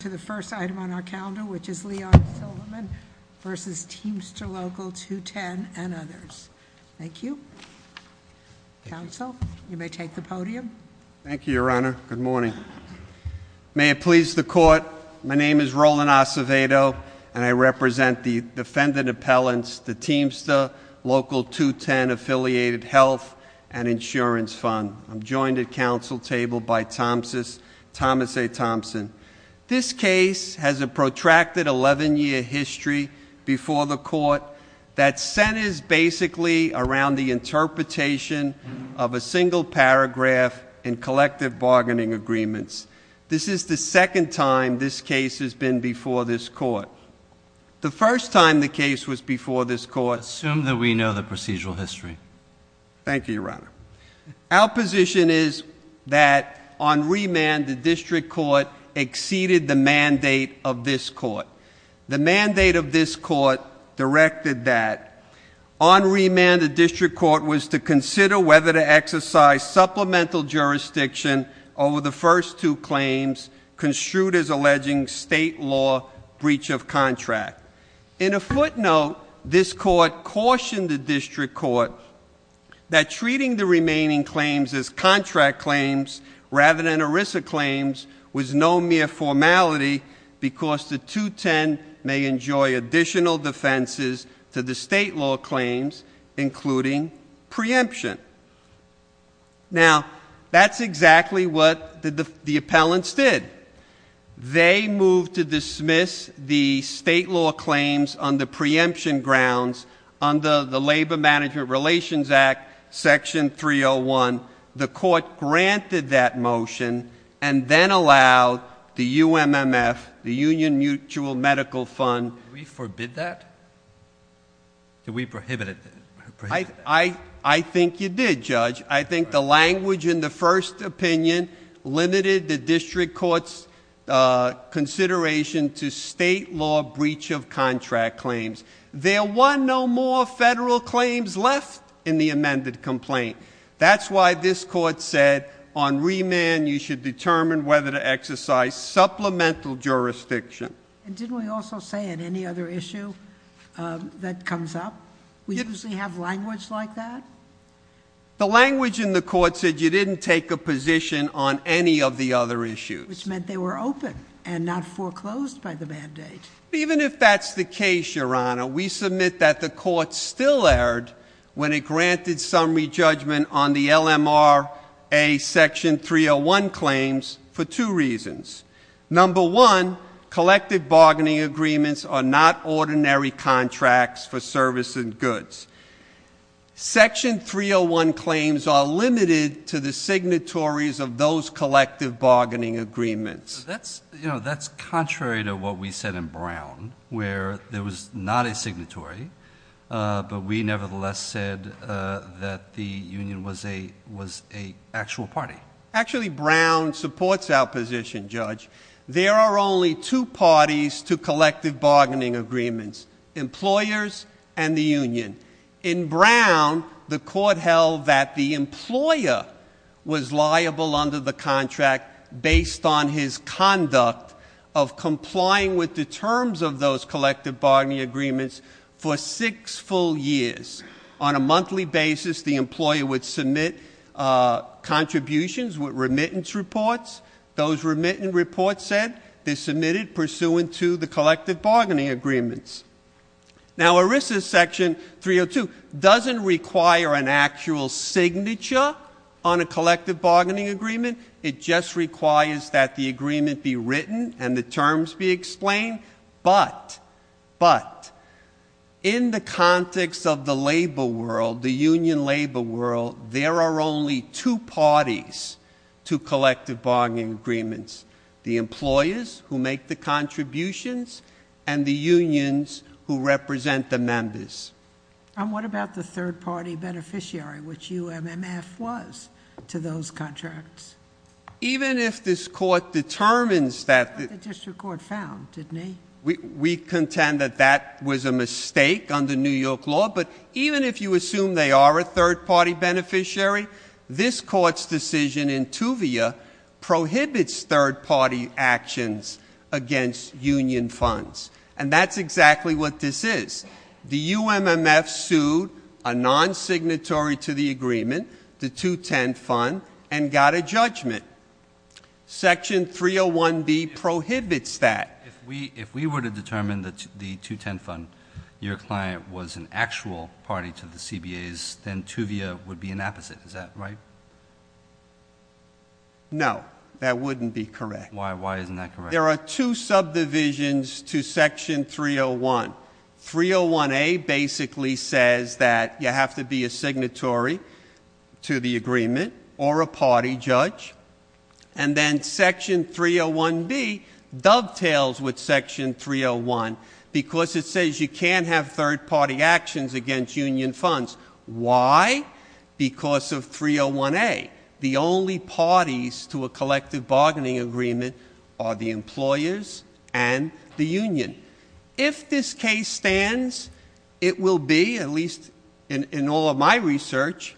to the first item on our calendar, which is Leon Silverman versus Teamster Local 210 and others. Thank you. Council, you may take the podium. Thank you, Your Honor. Good morning. May it please the court, my name is Roland Acevedo and I represent the defendant appellants, the Teamster Local 210 Affiliated Health and Insurance Fund. I'm joined at council table by Thomas A Thompson. This case has a protracted 11 year history before the court that centers basically around the interpretation of a single paragraph in collective bargaining agreements. This is the second time this case has been before this court. The first time the case was before this court- Assume that we know the procedural history. Thank you, Your Honor. Our position is that on remand, the district court exceeded the mandate of this court. The mandate of this court directed that on remand, the district court was to consider whether to exercise supplemental jurisdiction over the first two claims construed as alleging state law breach of contract. In a footnote, this court cautioned the district court that treating the remaining claims as contract claims rather than ERISA claims was no mere formality because the 210 may enjoy additional defenses to the state law claims, including preemption. Now, that's exactly what the appellants did. They moved to dismiss the state law claims on the preemption grounds under the Labor Management Relations Act, section 301. The court granted that motion and then allowed the UMMF, the Union Mutual Medical Fund- Did we forbid that? Did we prohibit it? I think you did, Judge. I think the language in the first opinion limited the district court's consideration to state law breach of contract claims. There were no more federal claims left in the amended complaint. That's why this court said on remand, you should determine whether to exercise supplemental jurisdiction. And didn't we also say in any other issue that comes up, we usually have language like that? The language in the court said you didn't take a position on any of the other issues. Which meant they were open and not foreclosed by the mandate. Even if that's the case, Your Honor, we submit that the court still erred when it granted summary judgment on the LMRA section 301 claims for two reasons. Number one, collective bargaining agreements are not ordinary contracts for service and goods. Section 301 claims are limited to the signatories of those collective bargaining agreements. That's contrary to what we said in Brown, where there was not a signatory. But we nevertheless said that the union was a actual party. Actually, Brown supports our position, Judge. There are only two parties to collective bargaining agreements, employers and the union. In Brown, the court held that the employer was liable under the contract based on his conduct of complying with the terms of those collective bargaining agreements for six full years. On a monthly basis, the employer would submit contributions with remittance reports. Those remittance reports said they submitted pursuant to the collective bargaining agreements. Now, ERISA section 302 doesn't require an actual signature on a collective bargaining agreement. It just requires that the agreement be written and the terms be explained. But in the context of the labor world, the union labor world, there are only two parties to collective bargaining agreements. The employers who make the contributions and the unions who represent the members. And what about the third party beneficiary, which UMMF was to those contracts? Even if this court determines that- The district court found, didn't they? We contend that that was a mistake under New York law. But even if you assume they are a third party beneficiary, this court's decision in Tuvia prohibits third party actions against union funds. And that's exactly what this is. The UMMF sued a non-signatory to the agreement, the 210 fund, and got a judgment. Section 301B prohibits that. If we were to determine that the 210 fund, your client was an actual party to the CBAs, then Tuvia would be an opposite, is that right? No, that wouldn't be correct. Why isn't that correct? There are two subdivisions to section 301. 301A basically says that you have to be a signatory to the agreement or a party judge. And then section 301B dovetails with section 301 because it says you can't have third party actions against union funds. Why? Because of 301A, the only parties to a collective bargaining agreement are the employers and the union. If this case stands, it will be, at least in all of my research,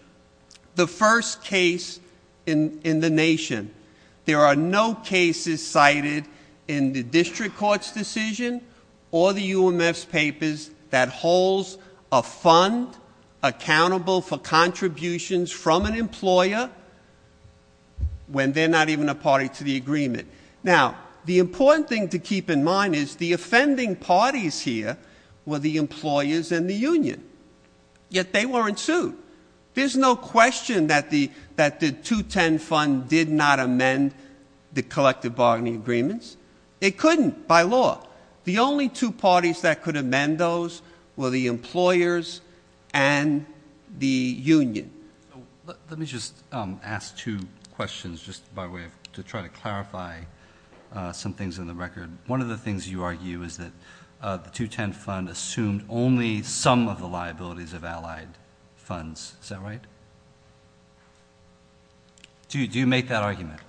the first case in the nation. There are no cases cited in the district court's decision or the UMF's papers that holds a fund accountable for contributions from an employer when they're not even a party to the agreement. Now, the important thing to keep in mind is the offending parties here were the employers and the union. Yet they weren't sued. There's no question that the 210 fund did not amend the collective bargaining agreements. It couldn't, by law. The only two parties that could amend those were the employers and the union. Let me just ask two questions, just by way of, to try to clarify some things in the record. One of the things you argue is that the 210 fund assumed only some of the liabilities of allied funds, is that right? Do you make that argument?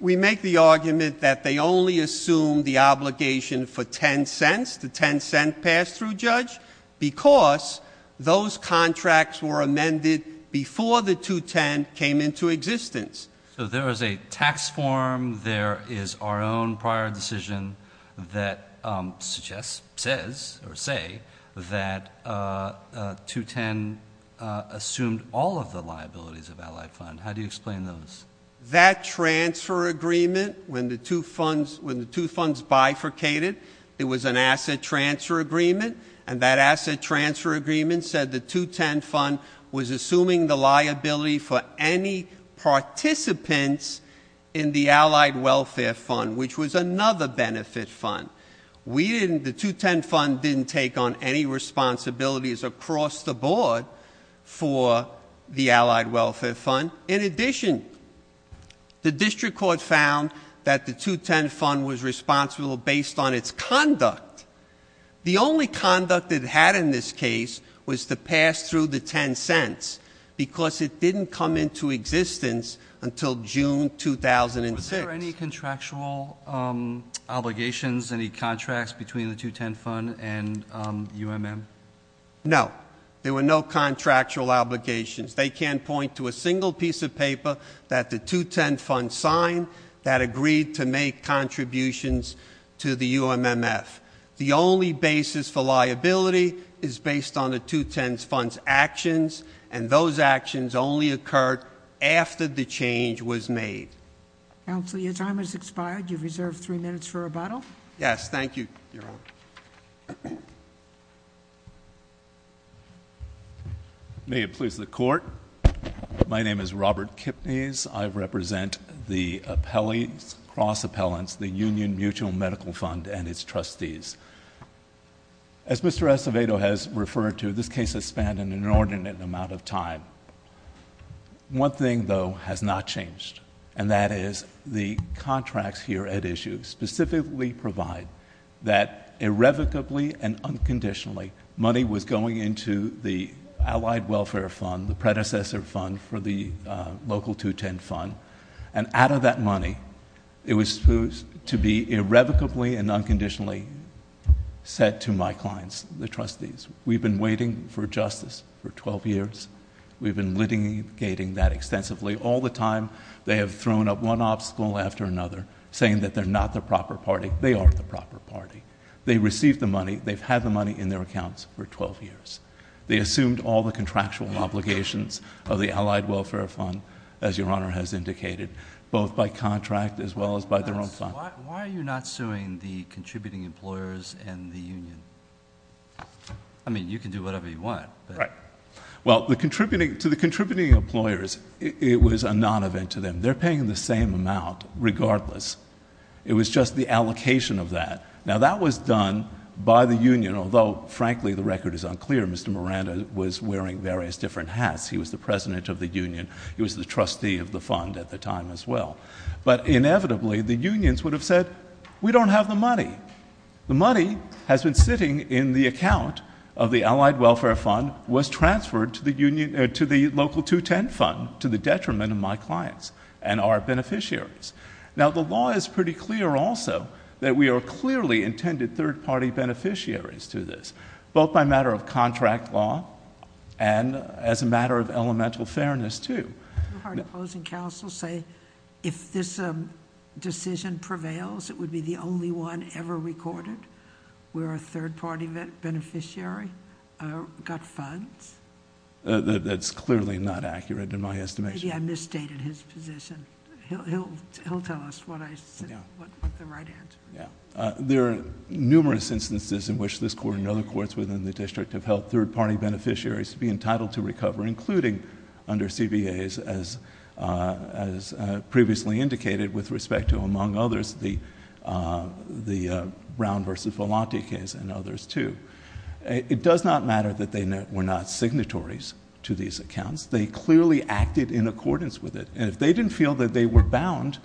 We make the argument that they only assume the obligation for ten cents, the ten cent pass through judge, because those contracts were amended before the 210 came into existence. So there is a tax form, there is our own prior decision that suggests, says, or say that 210 assumed all of the liabilities of allied fund. How do you explain those? That transfer agreement, when the two funds bifurcated, it was an asset transfer agreement, and that asset transfer agreement said the 210 fund was assuming the liability for any participants in the allied welfare fund, which was another benefit fund. We didn't, the 210 fund didn't take on any responsibilities across the board for the allied welfare fund. In addition, the district court found that the 210 fund was responsible based on its conduct. The only conduct it had in this case was to pass through the ten cents, because it didn't come into existence until June 2006. Was there any contractual obligations, any contracts between the 210 fund and UMM? No, there were no contractual obligations. They can't point to a single piece of paper that the 210 fund signed, that agreed to make contributions to the UMMF. The only basis for liability is based on the 210 fund's actions, and those actions only occurred after the change was made. Counsel, your time has expired. You've reserved three minutes for rebuttal. Yes, thank you, Your Honor. May it please the court. My name is Robert Kipnis. I represent the appellees, cross appellants, the Union Mutual Medical Fund and its trustees. As Mr. Acevedo has referred to, this case has spanned an inordinate amount of time. One thing, though, has not changed, and that is the contracts here at issue specifically provide that irrevocably and unconditionally money was going into the allied welfare fund, the predecessor fund for the local 210 fund, and out of that money, it was supposed to be irrevocably and unconditionally set to my clients, the trustees. We've been waiting for justice for 12 years. We've been litigating that extensively all the time. They have thrown up one obstacle after another, saying that they're not the proper party. They aren't the proper party. They received the money. They've had the money in their accounts for 12 years. They assumed all the contractual obligations of the allied welfare fund, as Your Honor has indicated, both by contract as well as by their own funds. Why are you not suing the contributing employers and the union? I mean, you can do whatever you want. Right. Well, to the contributing employers, it was a non-event to them. They're paying the same amount regardless. It was just the allocation of that. Now, that was done by the union, although, frankly, the record is unclear. Mr. Miranda was wearing various different hats. He was the president of the union. He was the trustee of the fund at the time as well. But inevitably, the unions would have said, we don't have the money. The money has been sitting in the account of the allied welfare fund, was transferred to the local 210 fund to the detriment of my clients and our beneficiaries. Now, the law is pretty clear also that we are clearly intended third-party beneficiaries to this, both by matter of contract law and as a matter of elemental fairness, too. Our opposing counsel say, if this decision prevails, it would be the only one ever recorded where a third-party beneficiary got funds? That's clearly not accurate in my estimation. Maybe I misstated his position. He'll tell us what I said, what the right answer is. There are numerous instances in which this court and other courts within the district have held third-party beneficiaries to be entitled to recover, including under CBAs as previously indicated with respect to, among others, the Brown versus Volante case and others, too. It does not matter that they were not signatories to these accounts. They clearly acted in accordance with it. And if they didn't feel that they were bound,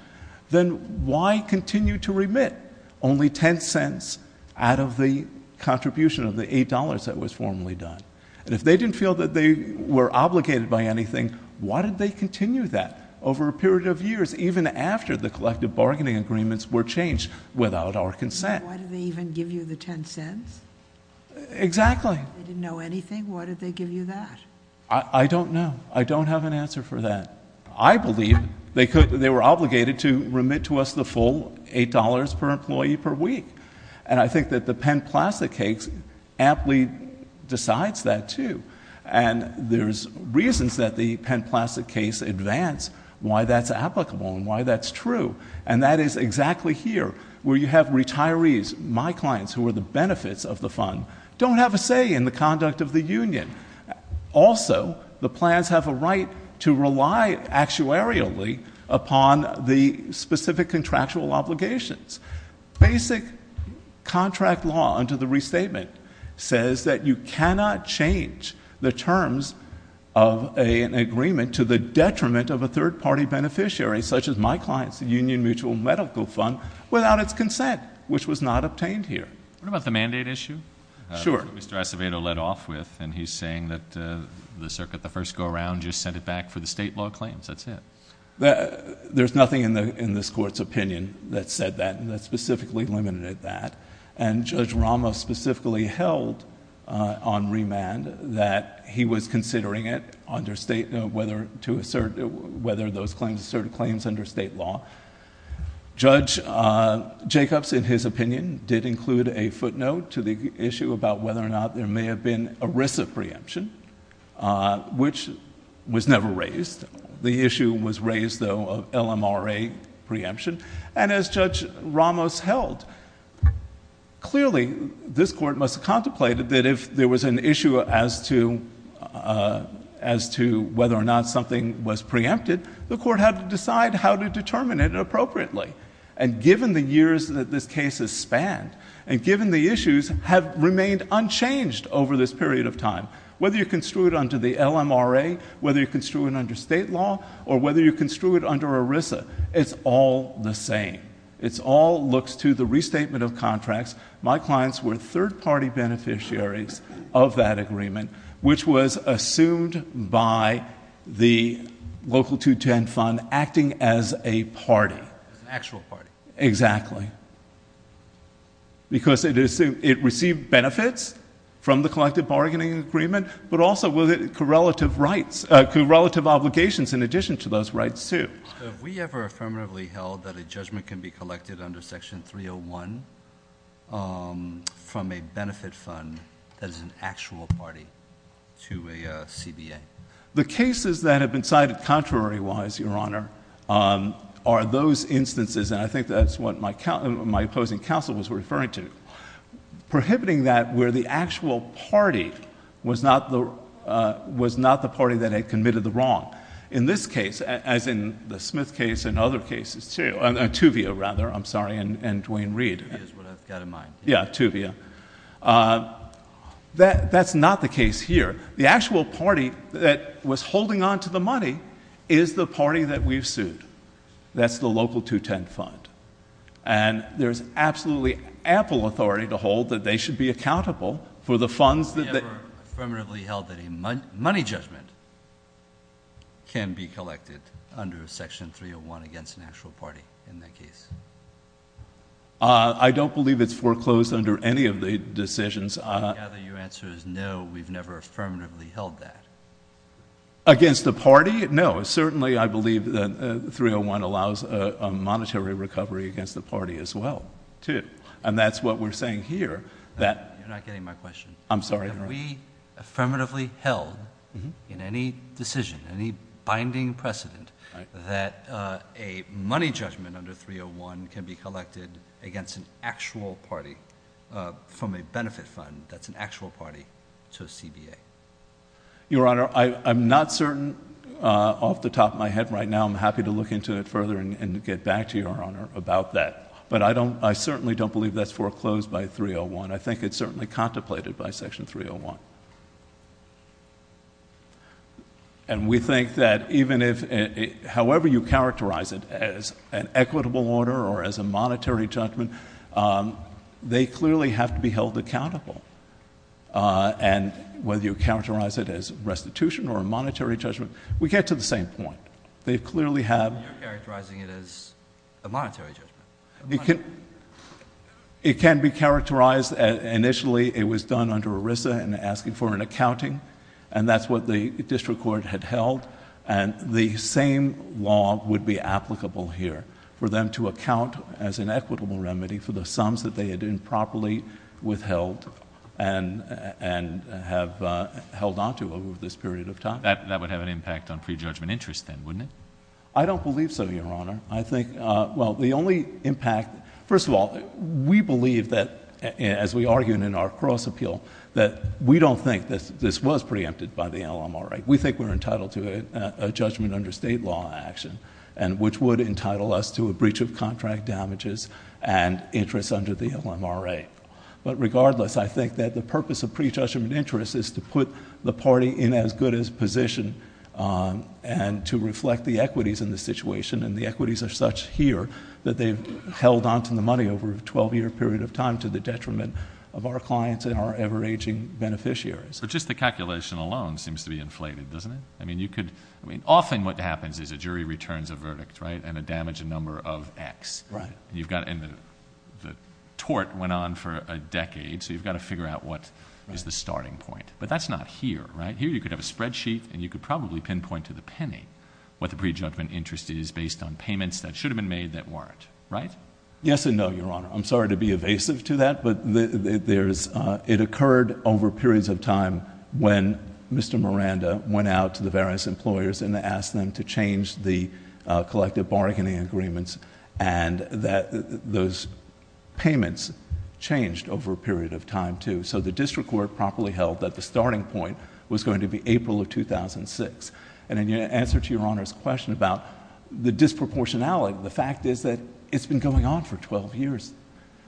then why continue to remit only ten cents out of the contribution of the $8 that was formerly done? And if they didn't feel that they were obligated by anything, why did they continue that over a period of years, even after the collective bargaining agreements were changed without our consent? Why did they even give you the ten cents? Exactly. They didn't know anything? Why did they give you that? I don't know. I don't have an answer for that. I believe they were obligated to remit to us the full $8 per employee per week. And I think that the Penn Plastic case aptly decides that, too. And there's reasons that the Penn Plastic case advance why that's applicable and why that's true. And that is exactly here, where you have retirees, my clients, who are the benefits of the fund, don't have a say in the conduct of the union. Also, the plans have a right to rely actuarially upon the specific contractual obligations. Basic contract law under the restatement says that you cannot change the terms of an agreement to the detriment of a third party beneficiary, such as my client's union mutual medical fund, without its consent, which was not obtained here. What about the mandate issue? Sure. That's what Mr. Acevedo led off with, and he's saying that the circuit, the first go around, just sent it back for the state law claims. That's it. There's nothing in this court's opinion that said that, that specifically limited that. And Judge Ramos specifically held on remand that he was considering it under state, whether to assert, whether those claims asserted claims under state law. Judge Jacobs, in his opinion, did include a footnote to the issue about whether or not there may have been ERISA preemption, which was never raised. The issue was raised, though, of LMRA preemption. And as Judge Ramos held, clearly this court must have contemplated that if there was an issue as to whether or not something was preempted, the court had to decide how to determine it appropriately. And given the years that this case has spanned, and given the issues have remained unchanged over this period of time. Whether you construe it under the LMRA, whether you construe it under state law, or whether you construe it under ERISA, it's all the same. It all looks to the restatement of contracts. My clients were third party beneficiaries of that agreement, which was assumed by the local 210 fund acting as a party. Actual party. Exactly. Because it received benefits from the collective bargaining agreement, but also with correlative rights, correlative obligations in addition to those rights, too. Have we ever affirmatively held that a judgment can be collected under section 301 from a benefit fund that is an actual party to a CBA? The cases that have been cited contrary wise, your honor, are those instances, and I think that's what my opposing counsel was referring to. Prohibiting that where the actual party was not the party that had committed the wrong. In this case, as in the Smith case and other cases too, and Tuvia rather, I'm sorry, and Dwayne Reed. Tuvia is what I've got in mind. Yeah, Tuvia. That's not the case here. The actual party that was holding on to the money is the party that we've sued. That's the local 210 fund. And there's absolutely ample authority to hold that they should be accountable for the funds that- Have we ever affirmatively held that a money judgment can be collected under section 301 against an actual party in that case? I don't believe it's foreclosed under any of the decisions. I gather your answer is no, we've never affirmatively held that. Against the party? No, certainly I believe that 301 allows a monetary recovery against the party as well, too. And that's what we're saying here, that- You're not getting my question. I'm sorry. Have we affirmatively held in any decision, any binding precedent, that a money judgment under 301 can be collected against an actual party from a benefit fund that's an actual party to a CBA? Your Honor, I'm not certain off the top of my head right now. I'm happy to look into it further and get back to you, Your Honor, about that. But I certainly don't believe that's foreclosed by 301. I think it's certainly contemplated by section 301. And we think that even if, however you characterize it as an equitable order or as a monetary judgment, they clearly have to be held accountable. And whether you characterize it as restitution or a monetary judgment, we get to the same point. They clearly have- You're characterizing it as a monetary judgment. It can be characterized initially it was done under ERISA and asking for an accounting. And that's what the district court had held. And the same law would be applicable here for them to account as an equitable remedy for the sums that they had improperly withheld and have held onto over this period of time. That would have an impact on prejudgment interest then, wouldn't it? I don't believe so, Your Honor. Well, the only impact- First of all, we believe that, as we argued in our cross appeal, that we don't think that this was preempted by the LMRA. We think we're entitled to a judgment under state law action, and which would entitle us to a breach of contract damages and interest under the LMRA. But regardless, I think that the purpose of prejudgment interest is to put the party in as good a position and to reflect the equities in the situation. And the equities are such here that they've held onto the money over a 12-year period of time to the detriment of our clients and our ever-aging beneficiaries. But just the calculation alone seems to be inflated, doesn't it? I mean, often what happens is a jury returns a verdict, right? And a damaging number of X. Right. And the tort went on for a decade. So you've got to figure out what is the starting point. But that's not here, right? Here you could have a spreadsheet, and you could probably pinpoint to the penny what the prejudgment interest is based on payments that should have been made that weren't. Right? Yes and no, Your Honor. I'm sorry to be evasive to that. But it occurred over periods of time when Mr. Miranda went out to the various employers and asked them to change the collective bargaining agreements. And those payments changed over a period of time, too. So the district court properly held that the starting point was going to be April of 2006. And in answer to Your Honor's question about the disproportionality, the fact is that it's been going on for 12 years.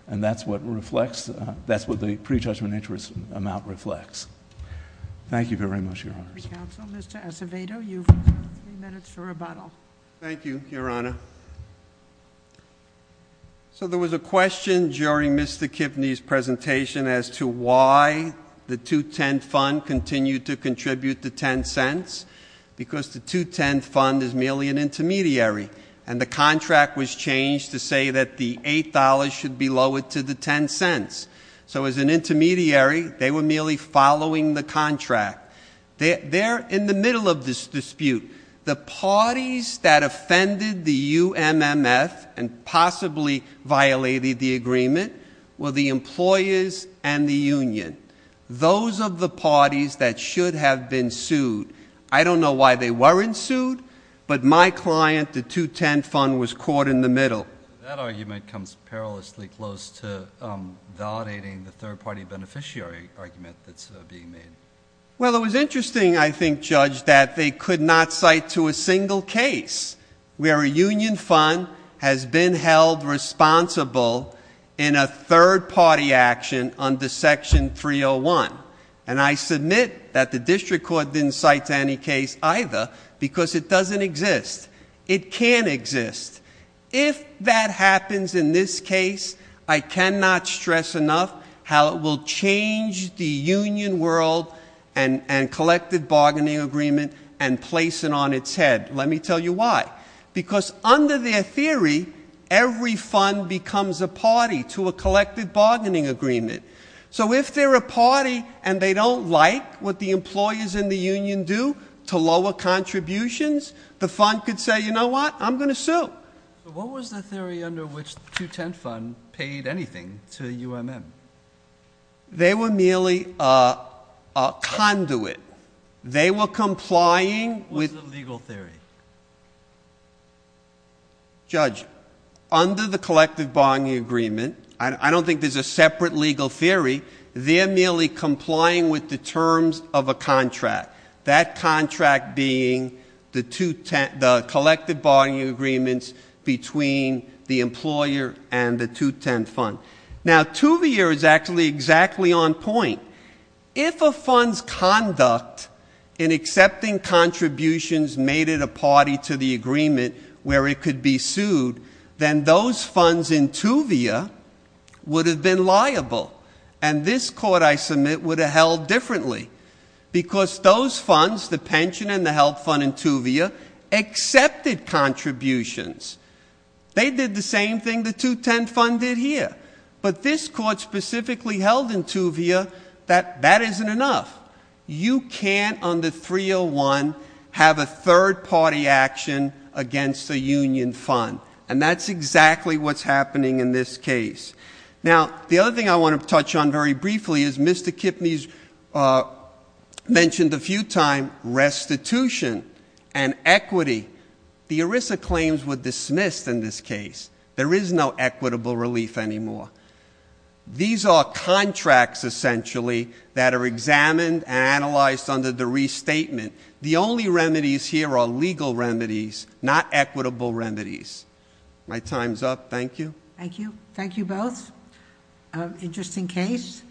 And that's what reflects. That's what the prejudgment interest amount reflects. Thank you very much, Your Honor. Counsel, Mr. Acevedo, you've got three minutes for rebuttal. Thank you, Your Honor. So there was a question during Mr. Kivney's presentation as to why the 210 fund continued to contribute the $0.10, because the 210 fund is merely an intermediary. And the contract was changed to say that the $8 should be lowered to the $0.10. So as an intermediary, they were merely following the contract. They're in the middle of this dispute. The parties that offended the UMMF and possibly violated the agreement were the employers and the union. Those are the parties that should have been sued. I don't know why they weren't sued, but my client, the 210 fund, was caught in the middle. That argument comes perilously close to validating the third party beneficiary argument that's being made. Well, it was interesting, I think, Judge, that they could not cite to a single case where a union fund has been held responsible in a third party action under section 301. And I submit that the district court didn't cite to any case either, because it doesn't exist. It can't exist. If that happens in this case, I cannot stress enough how it will change the union world and collective bargaining agreement and place it on its head. Let me tell you why. Because under their theory, every fund becomes a party to a collective bargaining agreement. So if they're a party and they don't like what the employers and the union do to lower contributions, the fund could say, you know what, I'm going to sue. What was the theory under which the 210 fund paid anything to the UMM? They were merely a conduit. They were complying with- Judge, under the collective bargaining agreement, I don't think there's a separate legal theory. They're merely complying with the terms of a contract. That contract being the collective bargaining agreements between the employer and the 210 fund. Now, Tuvier is actually exactly on point. If a fund's conduct in accepting contributions made it a party to the agreement where it could be sued, then those funds in Tuvier would have been liable. And this court I submit would have held differently. Because those funds, the pension and the health fund in Tuvier, accepted contributions. They did the same thing the 210 fund did here. But this court specifically held in Tuvier that that isn't enough. You can't on the 301 have a third party action against a union fund. And that's exactly what's happening in this case. Now, the other thing I want to touch on very briefly is Mr. Kipney's mentioned a few times restitution and equity. The ERISA claims were dismissed in this case. There is no equitable relief anymore. These are contracts essentially that are examined and analyzed under the restatement. The only remedies here are legal remedies, not equitable remedies. My time's up. Thank you. Thank you. Thank you both. Interesting case.